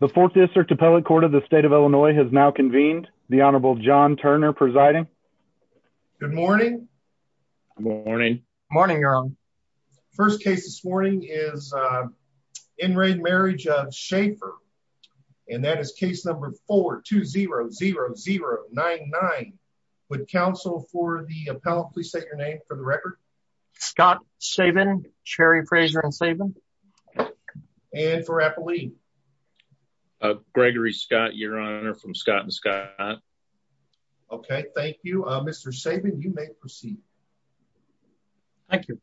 The fourth district appellate court of the state of Illinois has now convened the Honorable John Turner presiding. Good morning. Morning. Morning. First case this morning is in re Marriage of Shafer. And that is case number 4200099. Would counsel for the appellate please state your name for the record. Scott Sabin, Cherry Fraser and Sabin. And for appellate. Gregory Scott, your honor from Scott and Scott. Okay, thank you, Mr Sabin you may proceed. Thank you.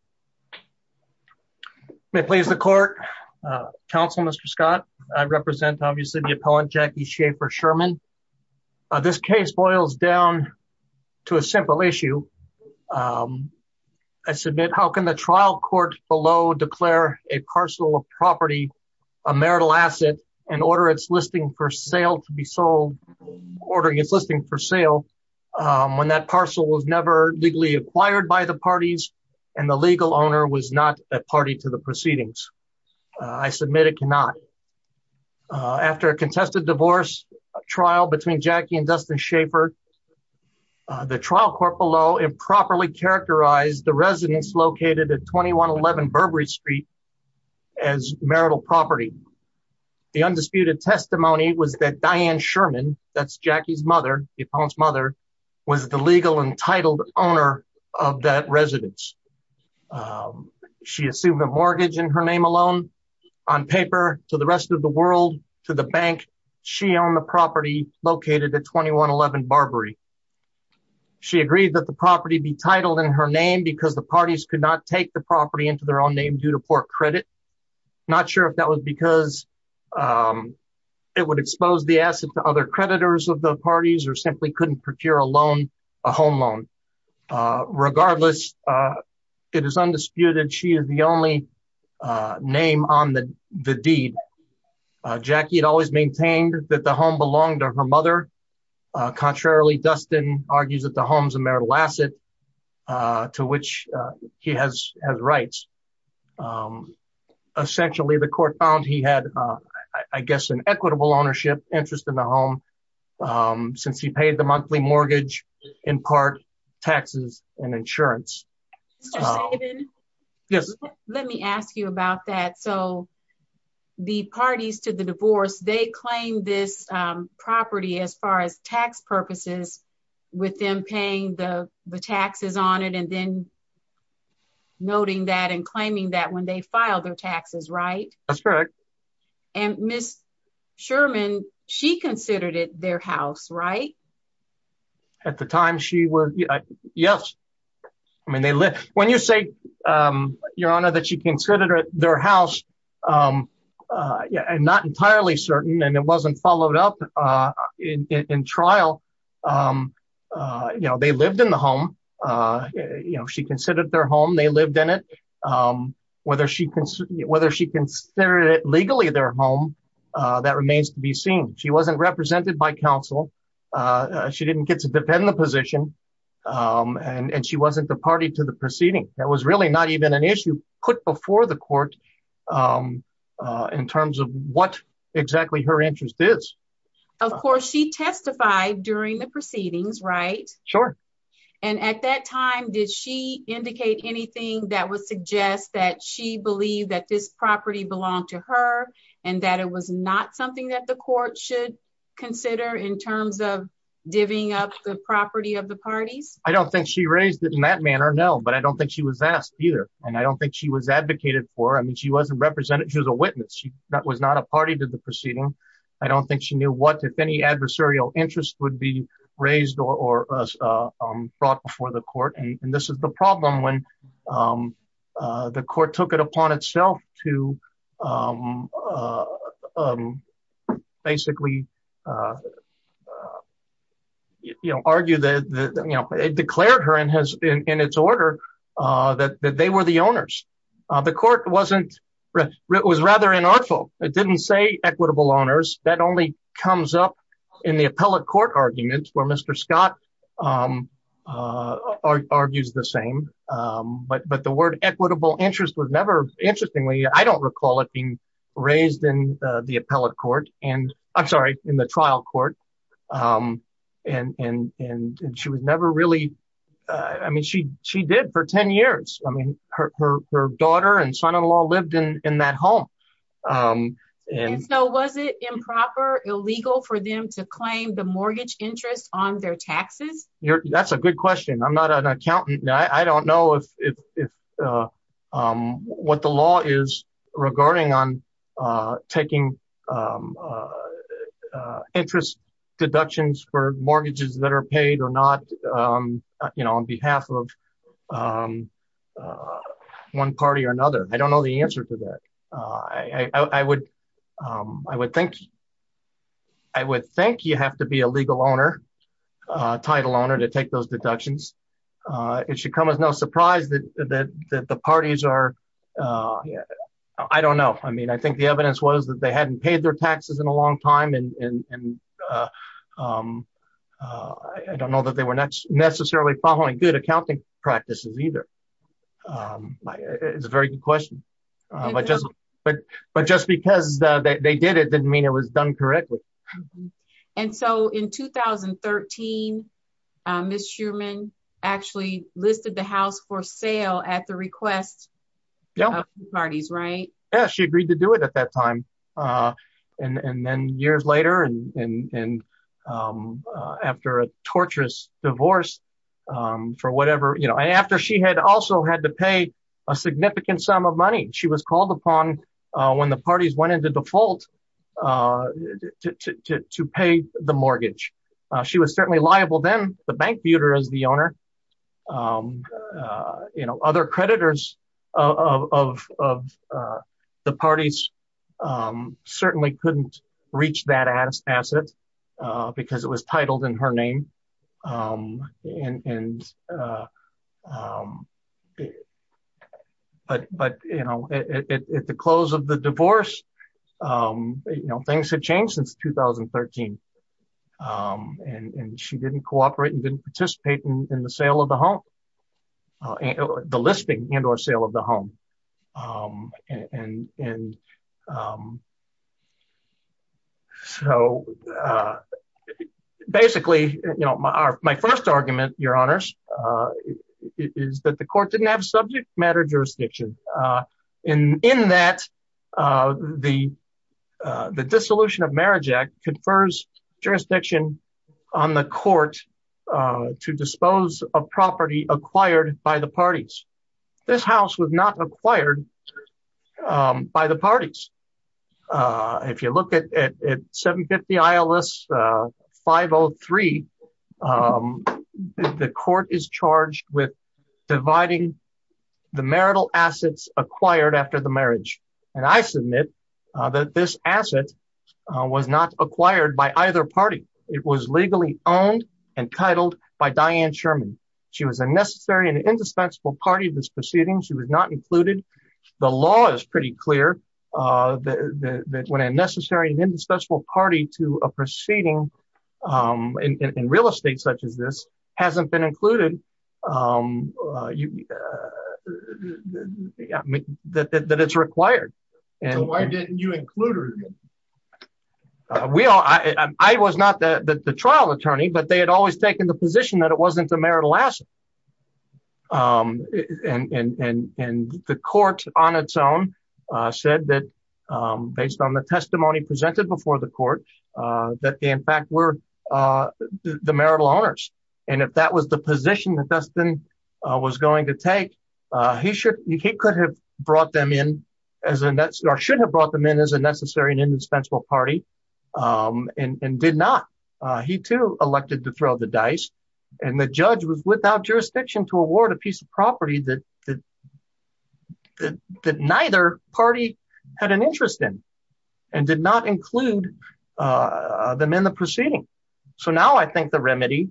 Please the court. Council Mr Scott, I represent obviously the appellant Jackie Schaefer Sherman. This case boils down to a simple issue. I submit how can the trial court below declare a parcel of property, a marital asset and order it's listing for sale to be sold ordering it's listing for sale. When that parcel was never legally acquired by the parties and the legal owner was not a party to the proceedings. I submit it cannot. After a contested divorce trial between Jackie and Dustin Schaefer. The trial court below improperly characterize the residence located at 2111 Burberry Street as marital property. The undisputed testimony was that Diane Sherman, that's Jackie's mother, the appellant's mother was the legal entitled owner of that residence. She assumed a mortgage in her name alone on paper to the rest of the world to the bank. She owned the property located at 2111 Burberry. She agreed that the property be titled in her name because the parties could not take the property into their own name due to poor credit. Not sure if that was because it would expose the asset to other creditors of the parties or simply couldn't procure a loan, a home loan. Regardless, it is undisputed. She is the only name on the deed. Jackie had always maintained that the home belonged to her mother. Contrarily, Dustin argues that the home's a marital asset to which he has rights. Essentially, the court found he had, I guess, an equitable ownership interest in the home since he paid the monthly mortgage, in part taxes and insurance. Let me ask you about that. So, the parties to the divorce, they claim this property as far as tax purposes with them paying the taxes on it and then noting that and claiming that when they file their taxes, right? That's correct. And Ms. Sherman, she considered it their house, right? At the time, she was, yes. I mean, when you say, Your Honor, that she considered it their house, I'm not entirely certain and it wasn't followed up in trial. You know, they lived in the home. You know, she considered their home, they lived in it. Whether she considered it legally their home, that remains to be seen. She wasn't represented by counsel. She didn't get to defend the position and she wasn't the party to the proceeding. That was really not even an issue put before the court in terms of what exactly her interest is. Of course, she testified during the proceedings, right? Sure. And at that time, did she indicate anything that would suggest that she believed that this property belonged to her and that it was not something that the court should consider in terms of divvying up the property of the parties? I don't think she raised it in that manner, no. But I don't think she was asked either. And I don't think she was advocated for. I mean, she wasn't represented. She was a witness. That was not a party to the proceeding. I don't think she knew what, if any, adversarial interest would be raised or brought before the court. And this is the problem when the court took it upon itself to basically, you know, argue that, you know, it declared her in its order that they were the owners. The court wasn't, it was rather inartful. It didn't say equitable owners. That only comes up in the appellate court argument where Mr. Scott argues the same. But the word equitable interest was never, interestingly, I don't recall it being raised in the appellate court and, I'm sorry, in the trial court. And she was never really, I mean, she did for 10 years. I mean, her daughter and son-in-law lived in that home. And so was it improper, illegal for them to claim the mortgage interest on their taxes? That's a good question. I'm not an accountant. I don't know if what the law is regarding on taking interest deductions for mortgages that are paid or not, you know, on behalf of one party or another. I don't know the answer to that. I would think you have to be a legal owner, title owner, to take those deductions. It should come as no surprise that the parties are, I don't know. I mean, I think the evidence was that they hadn't paid their taxes in a long time. And I don't know that they were necessarily following good accounting practices either. It's a very good question. But just because they did it didn't mean it was done correctly. And so in 2013, Ms. Shuman actually listed the house for sale at the request of the parties, right? Yeah, she agreed to do it at that time. And then years later and after a torturous divorce for whatever, you know, after she had also had to pay a significant sum of money. She was called upon when the parties went into default to pay the mortgage. She was certainly liable then. You know, other creditors of the parties certainly couldn't reach that asset because it was titled in her name. But, you know, at the close of the divorce, you know, things had changed since 2013. And she didn't cooperate and didn't participate in the sale of the home, the listing and or sale of the home. And so basically, you know, my first argument, Your Honors, is that the court didn't have subject matter jurisdiction. And in that the Dissolution of Marriage Act confers jurisdiction on the court to dispose of property acquired by the parties. This house was not acquired by the parties. If you look at 750 ILS 503, the court is charged with dividing the marital assets acquired after the marriage. And I submit that this asset was not acquired by either party. It was legally owned and titled by Diane Sherman. She was a necessary and indispensable party to this proceeding. She was not included. The law is pretty clear that when a necessary and indispensable party to a proceeding in real estate such as this hasn't been included, that it's required. Why didn't you include her? I was not the trial attorney, but they had always taken the position that it wasn't a marital asset. And the court on its own said that based on the testimony presented before the court, that they in fact were the marital owners. And if that was the position that Dustin was going to take, he could have brought them in or should have brought them in as a necessary and indispensable party and did not. He too elected to throw the dice. And the judge was without jurisdiction to award a piece of property that neither party had an interest in and did not include them in the proceeding. So now I think the remedy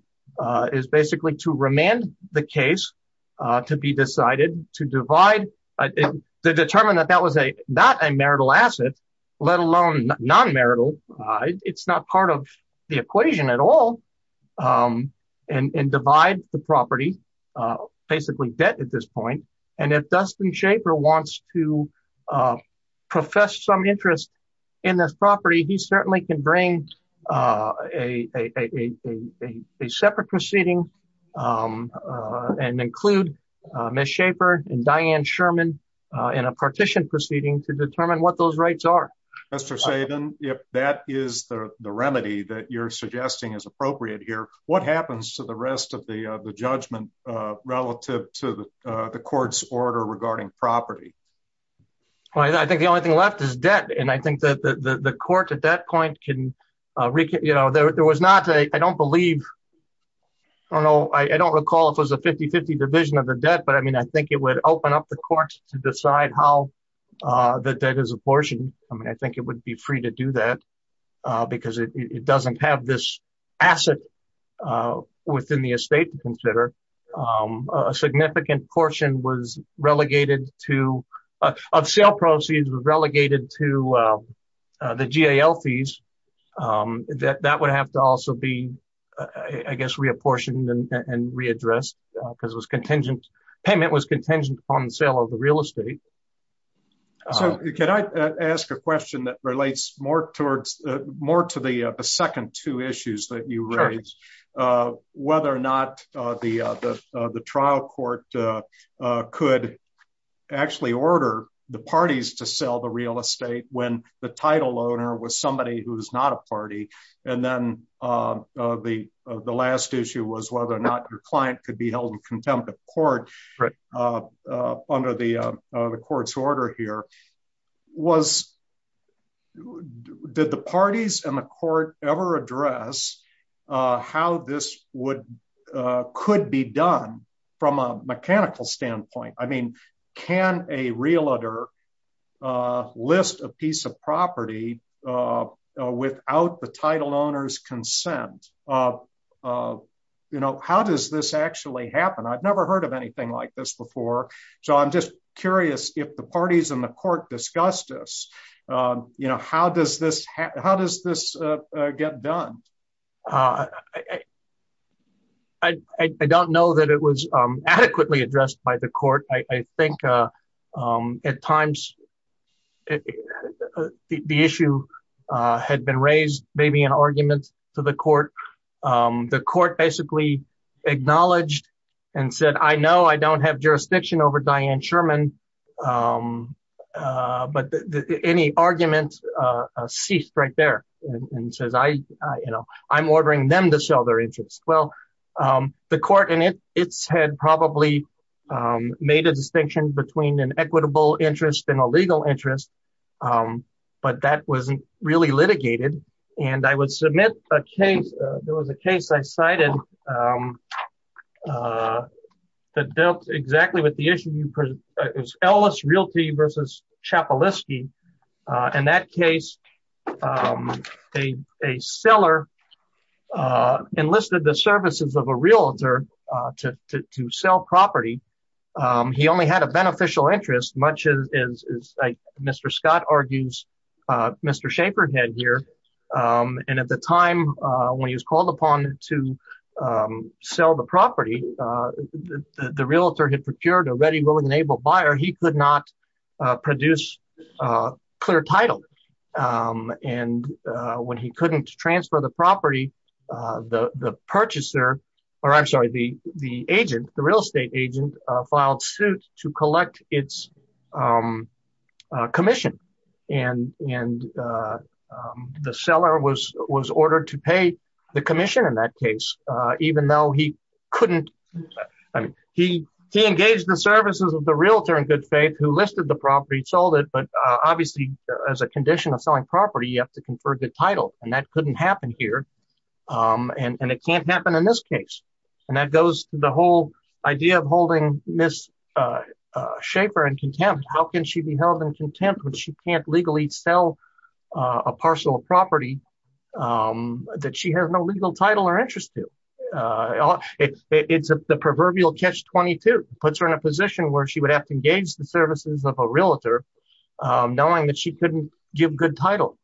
is basically to remand the case to be decided, to divide, to determine that that was not a marital asset, let alone non-marital. It's not part of the equation at all. And divide the property, basically debt at this point. And if Dustin Schaefer wants to profess some interest in this property, he certainly can bring a separate proceeding and include Ms. Schaefer and Diane Sherman in a partition proceeding to determine what those rights are. Mr. Sabin, if that is the remedy that you're suggesting is appropriate here, what happens to the rest of the judgment relative to the court's order regarding property? I think the only thing left is debt. And I think that the court at that point can, you know, there was not a, I don't believe, I don't know, I don't recall if it was a 50-50 division of the debt. But I mean, I think it would open up the courts to decide how the debt is apportioned. I mean, I think it would be free to do that because it doesn't have this asset within the estate to consider. A significant portion of sale proceeds was relegated to the GAL fees. That would have to also be, I guess, reapportioned and readdressed because payment was contingent upon the sale of the real estate. So can I ask a question that relates more towards, more to the second two issues that you raised? Whether or not the trial court could actually order the parties to sell the real estate when the title owner was somebody who is not a party. And then the last issue was whether or not your client could be held in contempt of court under the court's order here. Did the parties and the court ever address how this could be done from a mechanical standpoint? I mean, can a realtor list a piece of property without the title owner's consent? How does this actually happen? I've never heard of anything like this before. So I'm just curious if the parties and the court discussed this, how does this get done? I don't know that it was adequately addressed by the court. I think at times the issue had been raised, maybe an argument to the court. The court basically acknowledged and said, I know I don't have jurisdiction over Diane Sherman. But any argument ceased right there and says, I'm ordering them to sell their interest. Well, the court in its head probably made a distinction between an equitable interest and a legal interest, but that wasn't really litigated. And I would submit a case. There was a case I cited that dealt exactly with the issue. It was Ellis Realty versus Chappellisky. In that case, a seller enlisted the services of a realtor to sell property. He only had a beneficial interest, much as Mr. Scott argues Mr. Schaefer had here. And at the time when he was called upon to sell the property, the realtor had procured a ready, willing and able buyer. He could not produce a clear title. And when he couldn't transfer the property, the purchaser, or I'm sorry, the agent, the real estate agent filed suit to collect its commission. And the seller was ordered to pay the commission in that case, even though he couldn't. I mean, he engaged the services of the realtor in good faith who listed the property, sold it. But obviously, as a condition of selling property, you have to confer the title. And that couldn't happen here. And it can't happen in this case. And that goes to the whole idea of holding Ms. Schaefer in contempt. How can she be held in contempt when she can't legally sell a parcel of property that she has no legal title or interest to? It's the proverbial catch-22. Puts her in a position where she would have to engage the services of a realtor, knowing that she couldn't give good title.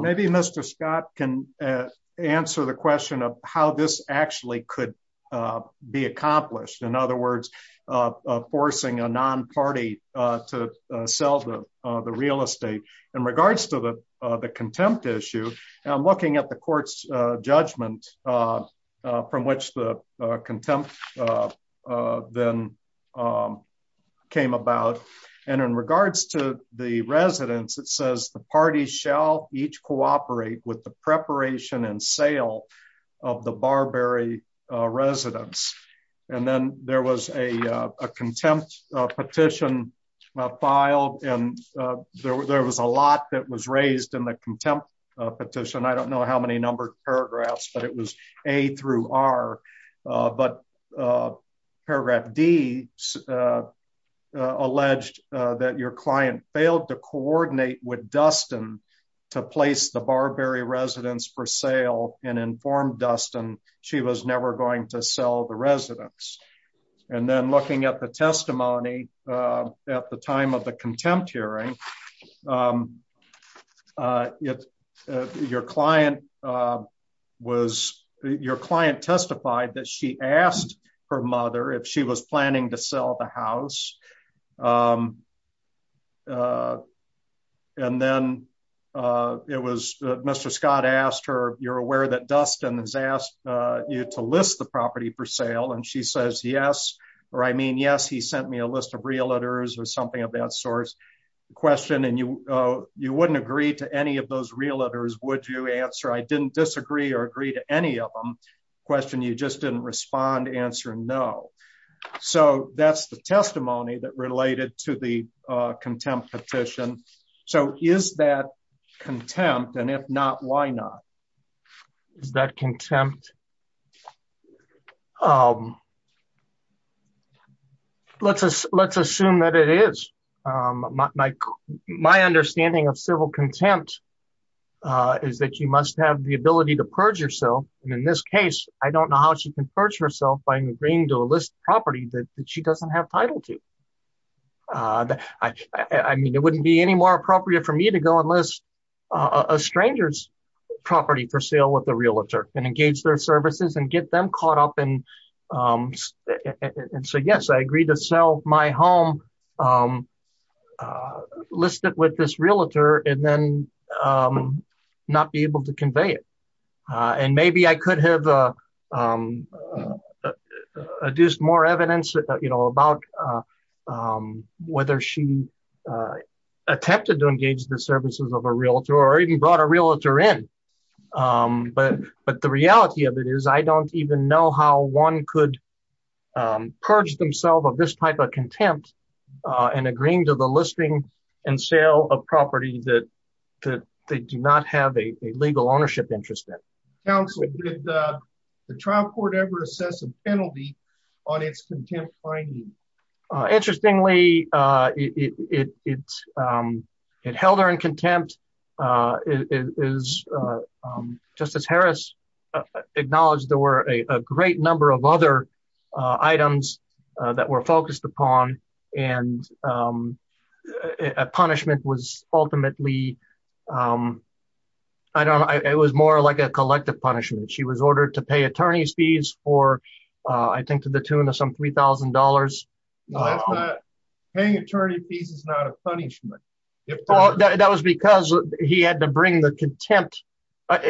Maybe Mr. Scott can answer the question of how this actually could be accomplished. In other words, forcing a non-party to sell the real estate. In regards to the contempt issue, I'm looking at the court's judgment from which the contempt then came about. And in regards to the residents, it says the parties shall each cooperate with the preparation and sale of the Barbary residents. And then there was a contempt petition filed. And there was a lot that was raised in the contempt petition. I don't know how many numbered paragraphs, but it was A through R. But paragraph D alleged that your client failed to coordinate with Dustin to place the Barbary residents for sale and informed Dustin she was never going to sell the residents. And then looking at the testimony at the time of the contempt hearing, your client testified that she asked her mother if she was planning to sell the house. And then Mr. Scott asked her, you're aware that Dustin has asked you to list the property for sale? And she says, yes. Or I mean, yes, he sent me a list of realtors or something of that source. And you wouldn't agree to any of those realtors, would you answer? I didn't disagree or agree to any of them. Question, you just didn't respond, answer no. So that's the testimony that related to the contempt petition. So is that contempt? And if not, why not? Is that contempt? Let's assume that it is. My understanding of civil contempt is that you must have the ability to purge yourself. And in this case, I don't know how she can purge herself by agreeing to list property that she doesn't have title to. I mean, it wouldn't be any more appropriate for me to go and list a stranger's property for sale with the realtor and engage their services and get them caught up. And so, yes, I agree to sell my home listed with this realtor and then not be able to convey it. And maybe I could have adduced more evidence about whether she attempted to engage the services of a realtor or even brought a realtor in. But the reality of it is I don't even know how one could purge themselves of this type of contempt and agreeing to the listing and sale of property that they do not have a legal ownership interest in. Counsel, did the trial court ever assess a penalty on its contempt finding? Interestingly, it held her in contempt. Justice Harris acknowledged there were a great number of other items that were focused upon, and a punishment was ultimately... She was ordered to pay attorney's fees for, I think, to the tune of some $3,000. Paying attorney fees is not a punishment. That was because he had to bring the contempt.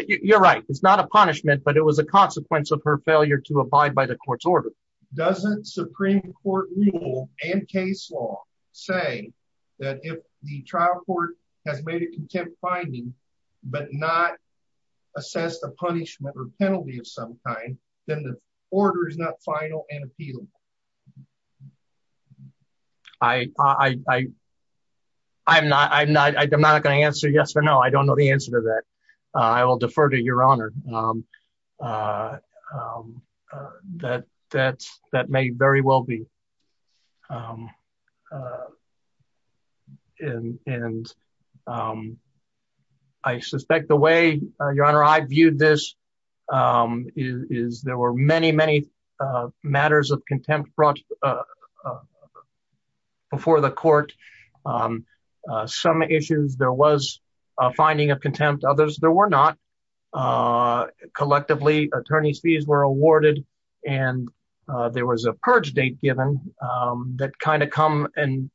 You're right. It's not a punishment, but it was a consequence of her failure to abide by the court's order. Doesn't Supreme Court rule and case law say that if the trial court has made a contempt finding, but not assessed a punishment or penalty of some kind, then the order is not final and appealable? I'm not going to answer yes or no. I don't know the answer to that. I will defer to Your Honor. That may very well be. I suspect the way, Your Honor, I viewed this is there were many, many matters of contempt brought before the court. Some issues, there was a finding of contempt. Others, there were not. Collectively, attorney's fees were awarded, and there was a purge date given that kind of come and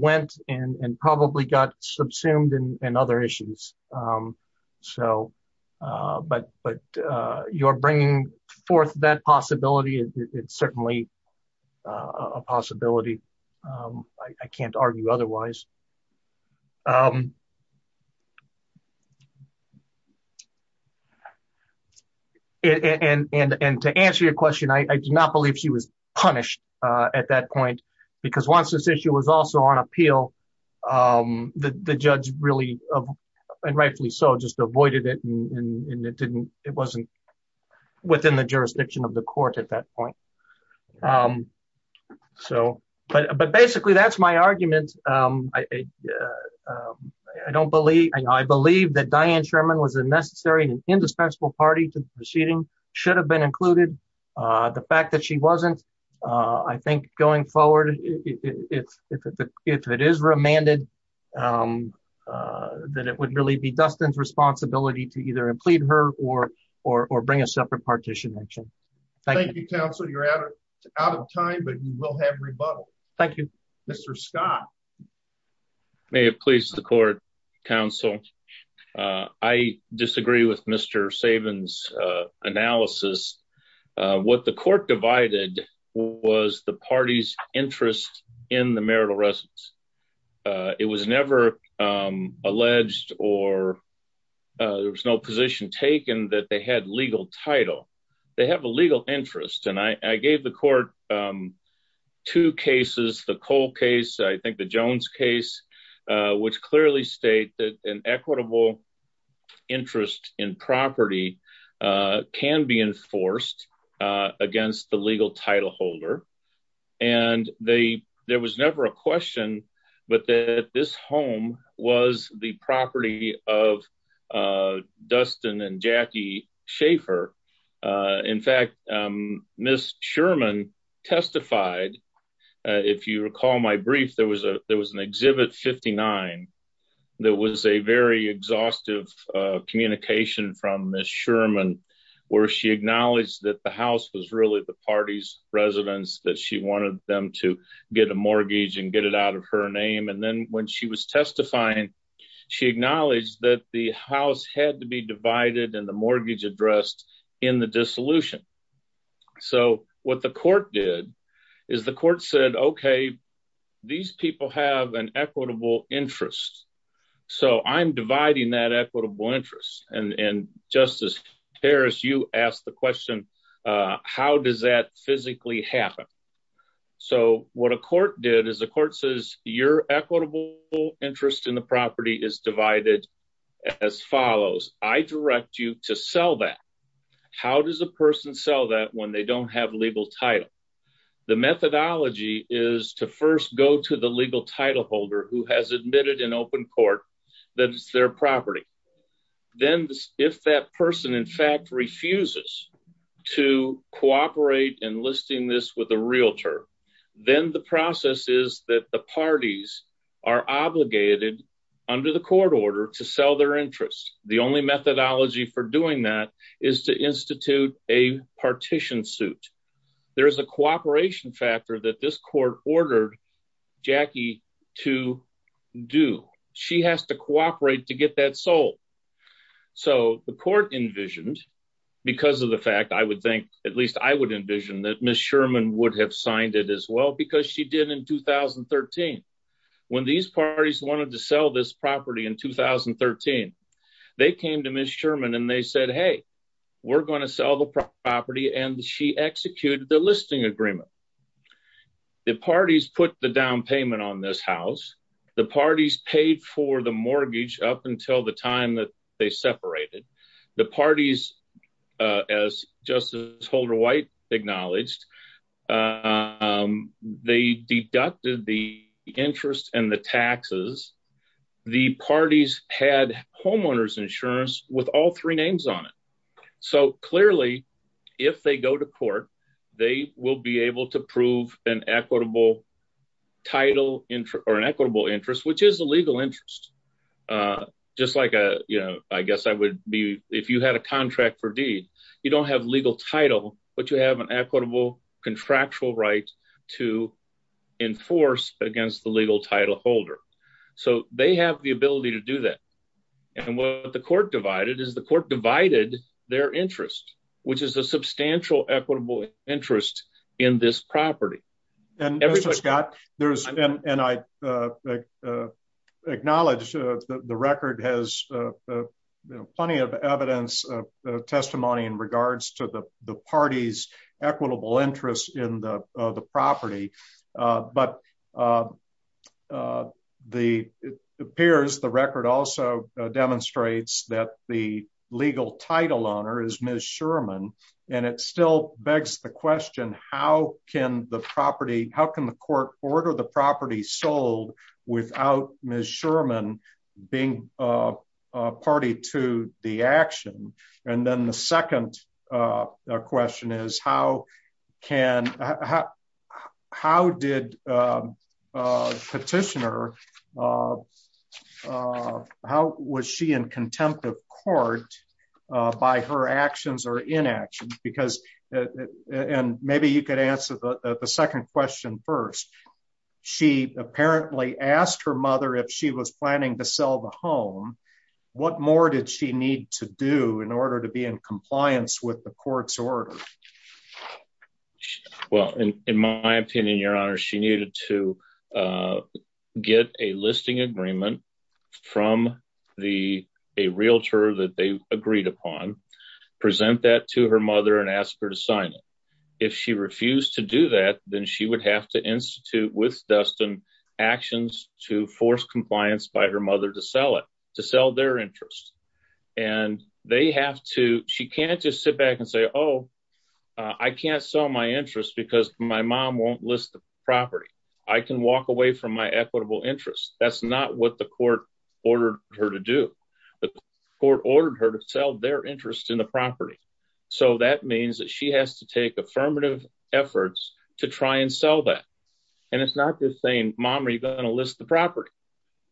went and probably got subsumed in other issues. But you're bringing forth that possibility. It's certainly a possibility. I can't argue otherwise. And to answer your question, I do not believe she was punished at that point, because once this issue was also on appeal, the judge really, and rightfully so, just avoided it, and it wasn't within the jurisdiction of the court at that point. But basically, that's my argument. I believe that Diane Sherman was a necessary and indispensable party to the proceeding, should have been included. The fact that she wasn't, I think going forward, if it is remanded, then it would really be Dustin's responsibility to either implead her or bring a separate partition action. Thank you, counsel. You're out of time, but you will have rebuttal. Thank you, Mr. Scott. May it please the court, counsel. I disagree with Mr. Saban's analysis. What the court divided was the party's interest in the marital residence. It was never alleged or there was no position taken that they had legal title. They have a legal interest, and I gave the court two cases, the Cole case, I think the Jones case, which clearly state that an equitable interest in property can be enforced against the legal title holder. And there was never a question, but that this home was the property of Dustin and Jackie Schaefer. In fact, Ms. Sherman testified. If you recall my brief, there was a there was an exhibit 59. There was a very exhaustive communication from Ms. Sherman, where she acknowledged that the house was really the party's residence, that she wanted them to get a mortgage and get it out of her name. And then when she was testifying, she acknowledged that the house had to be divided and the mortgage addressed in the dissolution. So what the court did is the court said, OK, these people have an equitable interest. So I'm dividing that equitable interest. And Justice Harris, you asked the question, how does that physically happen. So what a court did is the court says your equitable interest in the property is divided as follows. I direct you to sell that. How does a person sell that when they don't have legal title. The methodology is to first go to the legal title holder who has admitted in open court that it's their property. Then if that person in fact refuses to cooperate enlisting this with a realtor, then the process is that the parties are obligated under the court order to sell their interest. The only methodology for doing that is to institute a partition suit. There is a cooperation factor that this court ordered Jackie to do. She has to cooperate to get that sold. So the court envisioned because of the fact I would think at least I would envision that Miss Sherman would have signed it as well because she did in 2013. When these parties wanted to sell this property in 2013, they came to Miss Sherman and they said, hey, we're going to sell the property and she executed the listing agreement. The parties put the down payment on this house. The parties paid for the mortgage up until the time that they separated. The parties, as Justice Holder White acknowledged, they deducted the interest and the taxes. The parties had homeowners insurance with all three names on it. So clearly, if they go to court, they will be able to prove an equitable title or an equitable interest, which is a legal interest. If you had a contract for deed, you don't have legal title, but you have an equitable contractual right to enforce against the legal title holder. So they have the ability to do that. What the court divided is the court divided their interest, which is a substantial equitable interest in this property. Mr. Scott, and I acknowledge the record has plenty of evidence of testimony in regards to the parties equitable interest in the property. But it appears the record also demonstrates that the legal title owner is Miss Sherman, and it still begs the question, how can the court order the property sold without Miss Sherman being a party to the action? And then the second question is, how did Petitioner, how was she in contempt of court by her actions or inaction? And maybe you could answer the second question first. She apparently asked her mother if she was planning to sell the home. What more did she need to do in order to be in compliance with the court's order? Well, in my opinion, your honor, she needed to get a listing agreement from the realtor that they agreed upon, present that to her mother and ask her to sign it. If she refused to do that, then she would have to institute with Dustin actions to force compliance by her mother to sell it, to sell their interest. And they have to, she can't just sit back and say, oh, I can't sell my interest because my mom won't list the property. I can walk away from my equitable interest. That's not what the court ordered her to do. The court ordered her to sell their interest in the property. So that means that she has to take affirmative efforts to try and sell that. And it's not just saying, mom, are you going to list the property?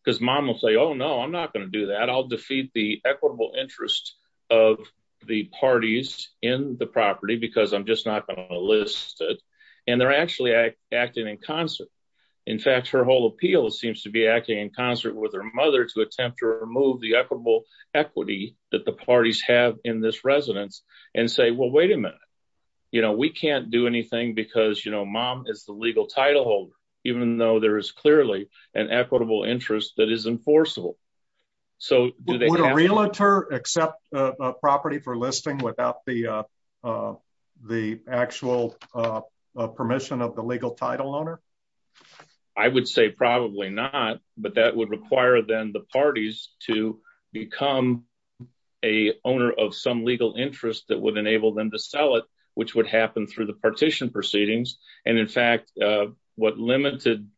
Because mom will say, oh, no, I'm not going to do that. I'll defeat the equitable interest of the parties in the property because I'm just not going to list it. And they're actually acting in concert. In fact, her whole appeal seems to be acting in concert with her mother to attempt to remove the equitable equity that the parties have in this residence and say, well, wait a minute. You know, we can't do anything because, you know, mom is the legal title holder, even though there is clearly an equitable interest that is enforceable. Would a realtor accept a property for listing without the actual permission of the legal title owner? I would say probably not, but that would require then the parties to become a owner of some legal interest that would enable them to sell it, which would happen through the partition proceedings. And in fact, what limited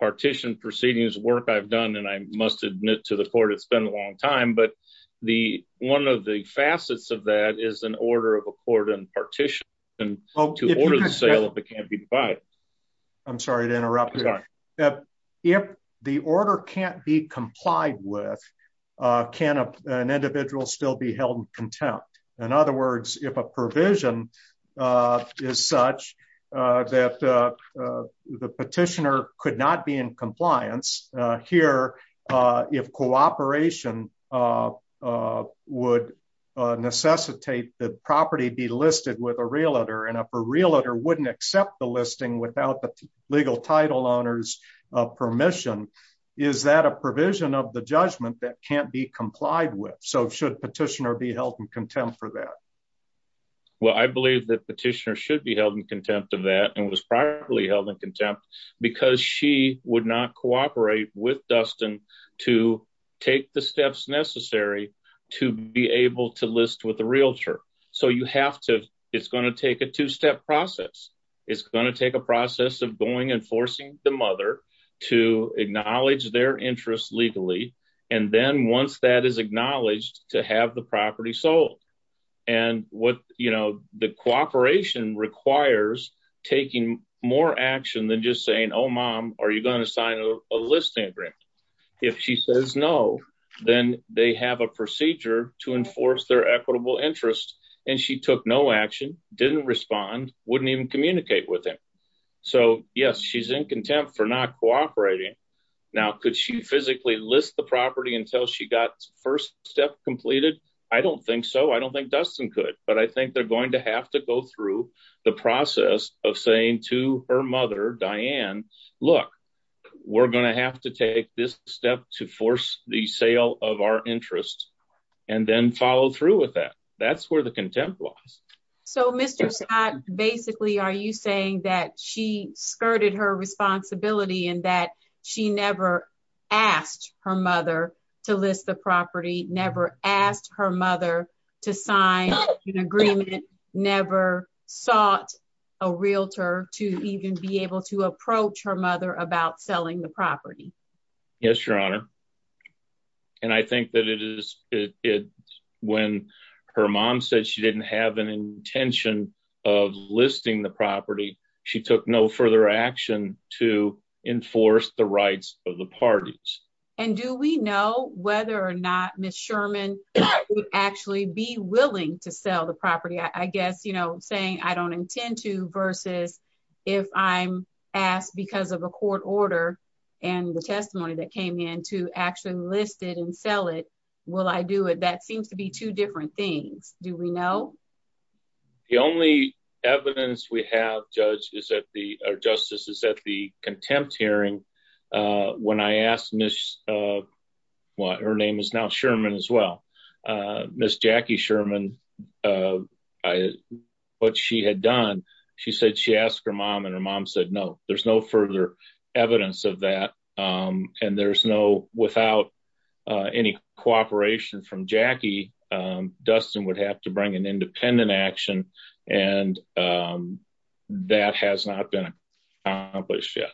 partition proceedings work I've done, and I must admit to the court, it's been a long time, but the one of the facets of that is an order of a court and partition. And to order the sale of the can't be divided. I'm sorry to interrupt. If the order can't be complied with, can an individual still be held in contempt. In other words, if a provision is such that the petitioner could not be in compliance here. If cooperation would necessitate the property be listed with a realtor and a realtor wouldn't accept the listing without the legal title owners permission. Is that a provision of the judgment that can't be complied with. So should petitioner be held in contempt for that. Well, I believe that petitioner should be held in contempt of that and was probably held in contempt because she would not cooperate with Dustin to take the steps necessary to be able to list with a realtor. So you have to, it's going to take a two step process. It's going to take a process of going and forcing the mother to acknowledge their interest legally. And then once that is acknowledged to have the property sold and what, you know, the cooperation requires taking more action than just saying, Oh, mom, are you going to sign a listing agreement. If she says no, then they have a procedure to enforce their equitable interest. And she took no action didn't respond wouldn't even communicate with him. So, yes, she's in contempt for not cooperating. Now could she physically list the property until she got first step completed. I don't think so. I don't think Dustin could, but I think they're going to have to go through the process of saying to her mother, Diane. Look, we're going to have to take this step to force the sale of our interest, and then follow through with that. That's where the contempt was. So Mr. Scott, basically, are you saying that she skirted her responsibility and that she never asked her mother to list the property never asked her mother to sign an agreement never sought a realtor to even be able to approach her mother about selling the property. Yes, Your Honor. And I think that it is it when her mom said she didn't have an intention of listing the property. She took no further action to enforce the rights of the parties. And do we know whether or not Miss Sherman actually be willing to sell the property I guess you know saying I don't intend to versus if I'm asked because of a court order, and the testimony that came in to actually listed and sell it. Will I do it that seems to be two different things. Do we know the only evidence we have judge is that the justice is that the contempt hearing. When I asked Miss what her name is now Sherman as well. Miss Jackie Sherman. I, what she had done. She said she asked her mom and her mom said no, there's no further evidence of that. And there's no without any cooperation from Jackie Dustin would have to bring an independent action. And that has not been accomplished yet.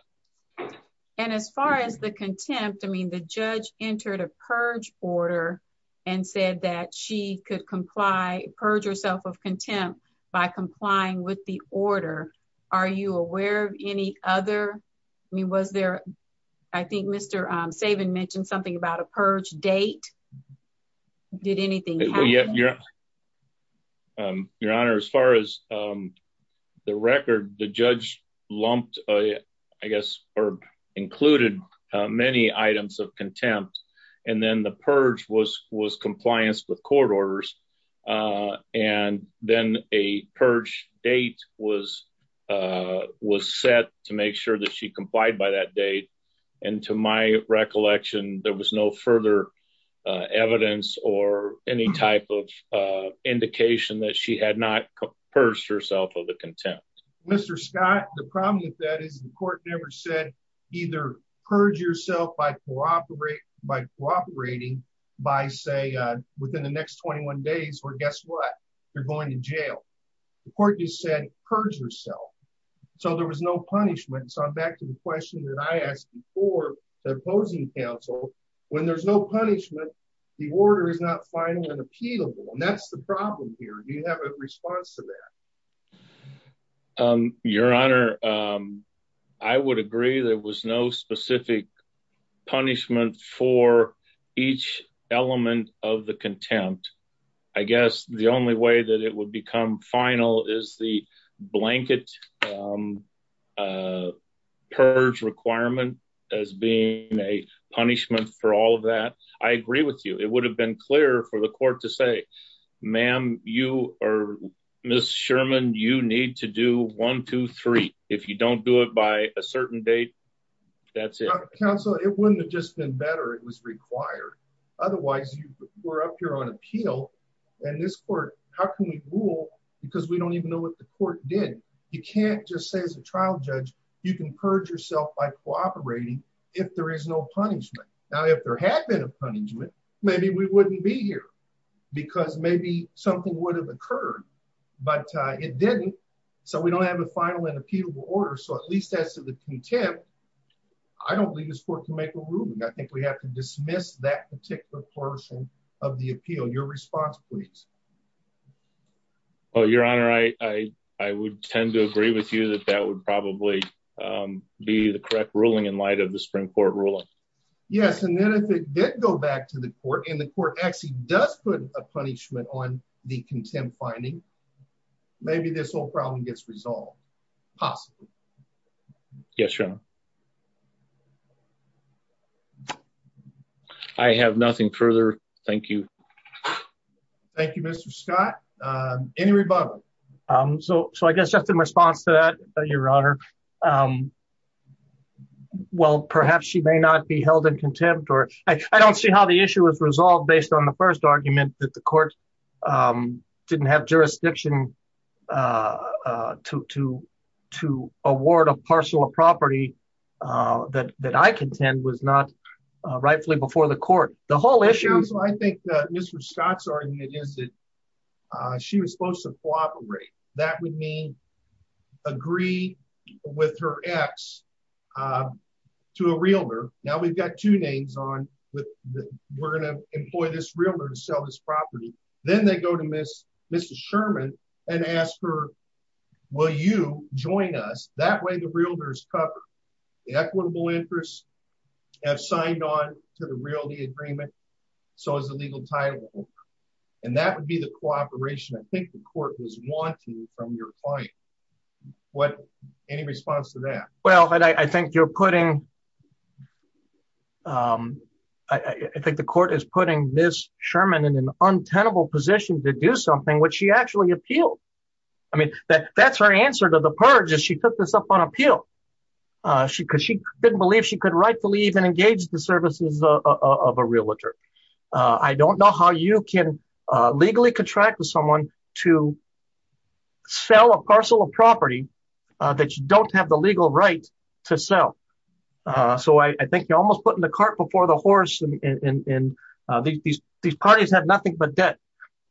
And as far as the contempt I mean the judge entered a purge order and said that she could comply purge herself of contempt by complying with the order. Are you aware of any other me was there. I think Mr. Saban mentioned something about a purge date. Did anything. Your Honor, as far as the record, the judge lumped, I guess, or included many items of contempt, and then the purge was was compliance with court orders. And then a purge date was was set to make sure that she complied by that date. And to my recollection, there was no further evidence or any type of indication that she had not purged herself of the contempt. Mr. Scott, the problem with that is the court never said either purge yourself by cooperate by cooperating by say within the next 21 days or guess what, you're going to jail. The court you said, purge yourself. So there was no punishment so I'm back to the question that I asked before the opposing counsel, when there's no punishment. The order is not final and appealable and that's the problem here you have a response to that. Your Honor. I would agree there was no specific punishment for each element of the contempt. I guess the only way that it would become final is the blanket purge requirement as being a punishment for all of that. I agree with you, it would have been clear for the court to say, ma'am, you are Miss Sherman you need to do 123 if you don't do it by a certain date. That's it, counsel, it wouldn't have just been better it was required. Otherwise, you were up here on appeal. And this court, how can we rule, because we don't even know what the court did. You can't just say as a trial judge, you can purge yourself by cooperating. If there is no punishment. Now if there had been a punishment, maybe we wouldn't be here, because maybe something would have occurred, but it didn't. So we don't have a final and appealable order so at least as to the contempt. I don't believe this court to make a ruling I think we have to dismiss that particular portion of the appeal your response, please. Oh, Your Honor, I, I would tend to agree with you that that would probably be the correct ruling in light of the Supreme Court ruling. Yes, and then if it did go back to the court in the court actually does put a punishment on the contempt finding. Maybe this whole problem gets resolved. Possibly. Yes, sure. I have nothing further. Thank you. Thank you, Mr. Scott. Any rebuttal. So, so I guess just in response to that, Your Honor. Well, perhaps she may not be held in contempt or I don't see how the issue is resolved based on the first argument that the court didn't have jurisdiction to to to award a parcel of property that that I contend was not rightfully before the court, the whole issue. So I think that Mr. Scott's argument is that she was supposed to cooperate, that would mean agree with her ex to a realtor. Now we've got two names on with the, we're going to employ this realtor to sell this property. Then they go to Miss, Mr Sherman, and ask her. Will you join us that way the realtors cover the equitable interest have signed on to the realty agreement. So as a legal title. And that would be the cooperation I think the court was wanting from your client. What any response to that. Well, I think you're putting. I think the court is putting this Sherman in an untenable position to do something which she actually appeal. I mean, that's her answer to the purge is she took this up on appeal. She because she didn't believe she could rightfully even engage the services of a realtor. I don't know how you can legally contract with someone to sell a parcel of property that you don't have the legal right to sell. So I think you're almost putting the cart before the horse in these parties have nothing but debt,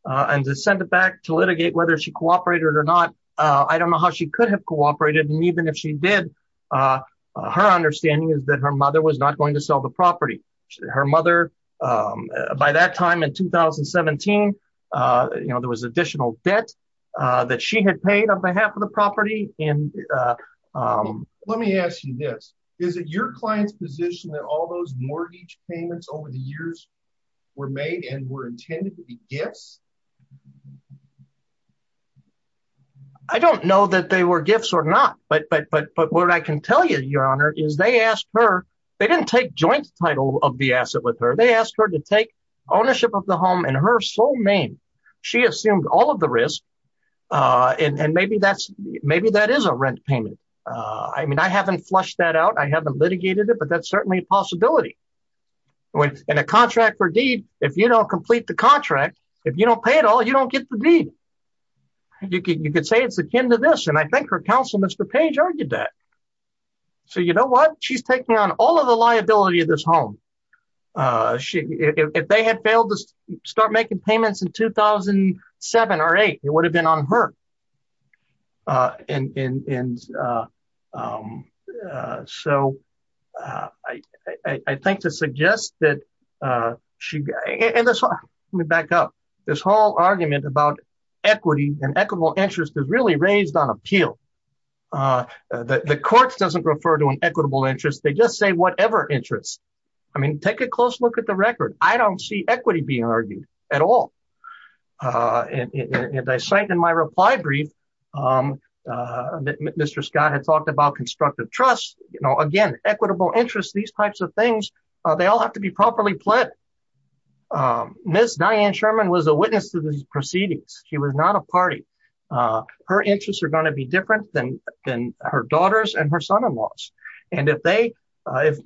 and to send it back to litigate whether she cooperated or not. I don't know how she could have cooperated and even if she did. Her understanding is that her mother was not going to sell the property. Her mother. By that time in 2017. You know there was additional debt that she had paid on behalf of the property, and let me ask you this. Is it your client's position that all those mortgage payments over the years were made and were intended to be gifts. I don't know that they were gifts or not, but but but but what I can tell you your honor is they asked her. They didn't take joint title of the asset with her they asked her to take ownership of the home and her sole name. She assumed all of the risk. And maybe that's maybe that is a rent payment. I mean I haven't flushed that out I haven't litigated it but that's certainly a possibility. When a contract for deed. If you don't complete the contract. If you don't pay it all you don't get the deed. You could you could say it's akin to this and I think her counsel Mr page argued that. So you know what she's taking on all of the liability of this home. She, if they had failed to start making payments in 2007 or eight, it would have been on her. And so, I think to suggest that she got me back up this whole argument about equity and equitable interest is really raised on appeal. The courts doesn't refer to an equitable interest they just say whatever interests. I mean take a close look at the record, I don't see equity being argued at all. And I cite in my reply brief. Mr Scott had talked about constructive trust, you know again equitable interest these types of things. They all have to be properly pled. Miss Diane Sherman was a witness to the proceedings, he was not a party. Her interests are going to be different than, than her daughters and her son in law's. And if they, if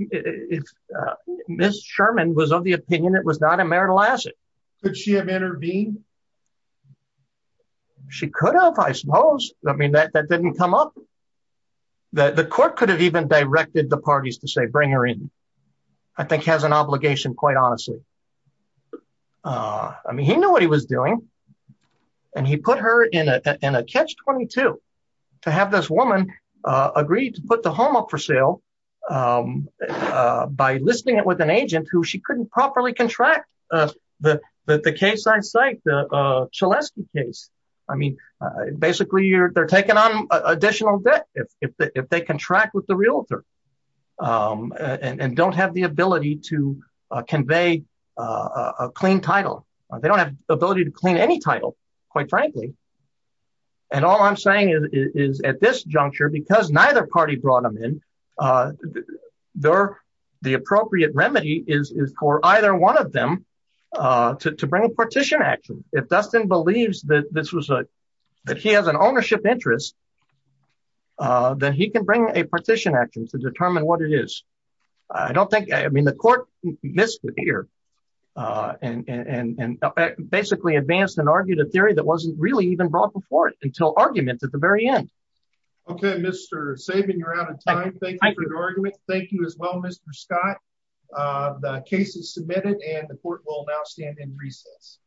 Miss Sherman was of the opinion it was not a marital asset. Could she have intervened. She could have I suppose, I mean that that didn't come up. The court could have even directed the parties to say bring her in. I think has an obligation quite honestly. I mean he knew what he was doing. And he put her in a catch 22 to have this woman agreed to put the home up for sale. By listing it with an agent who she couldn't properly contract that the case I cite the Celeste case. I mean, basically you're they're taking on additional debt, if they contract with the realtor and don't have the ability to convey a clean title. They don't have the ability to clean any title, quite frankly. And all I'm saying is at this juncture because neither party brought them in there. The appropriate remedy is for either one of them to bring a partition action, if Dustin believes that this was a, that he has an ownership interest that he can bring a partition action to determine what it is. I don't think I mean the court, Mr. Peter, and basically advanced and argued a theory that wasn't really even brought before it until arguments at the very end. Okay, Mr. saving you're out of time. Thank you for your argument. Thank you as well Mr. Scott. The case is submitted and the court will now stand in recess.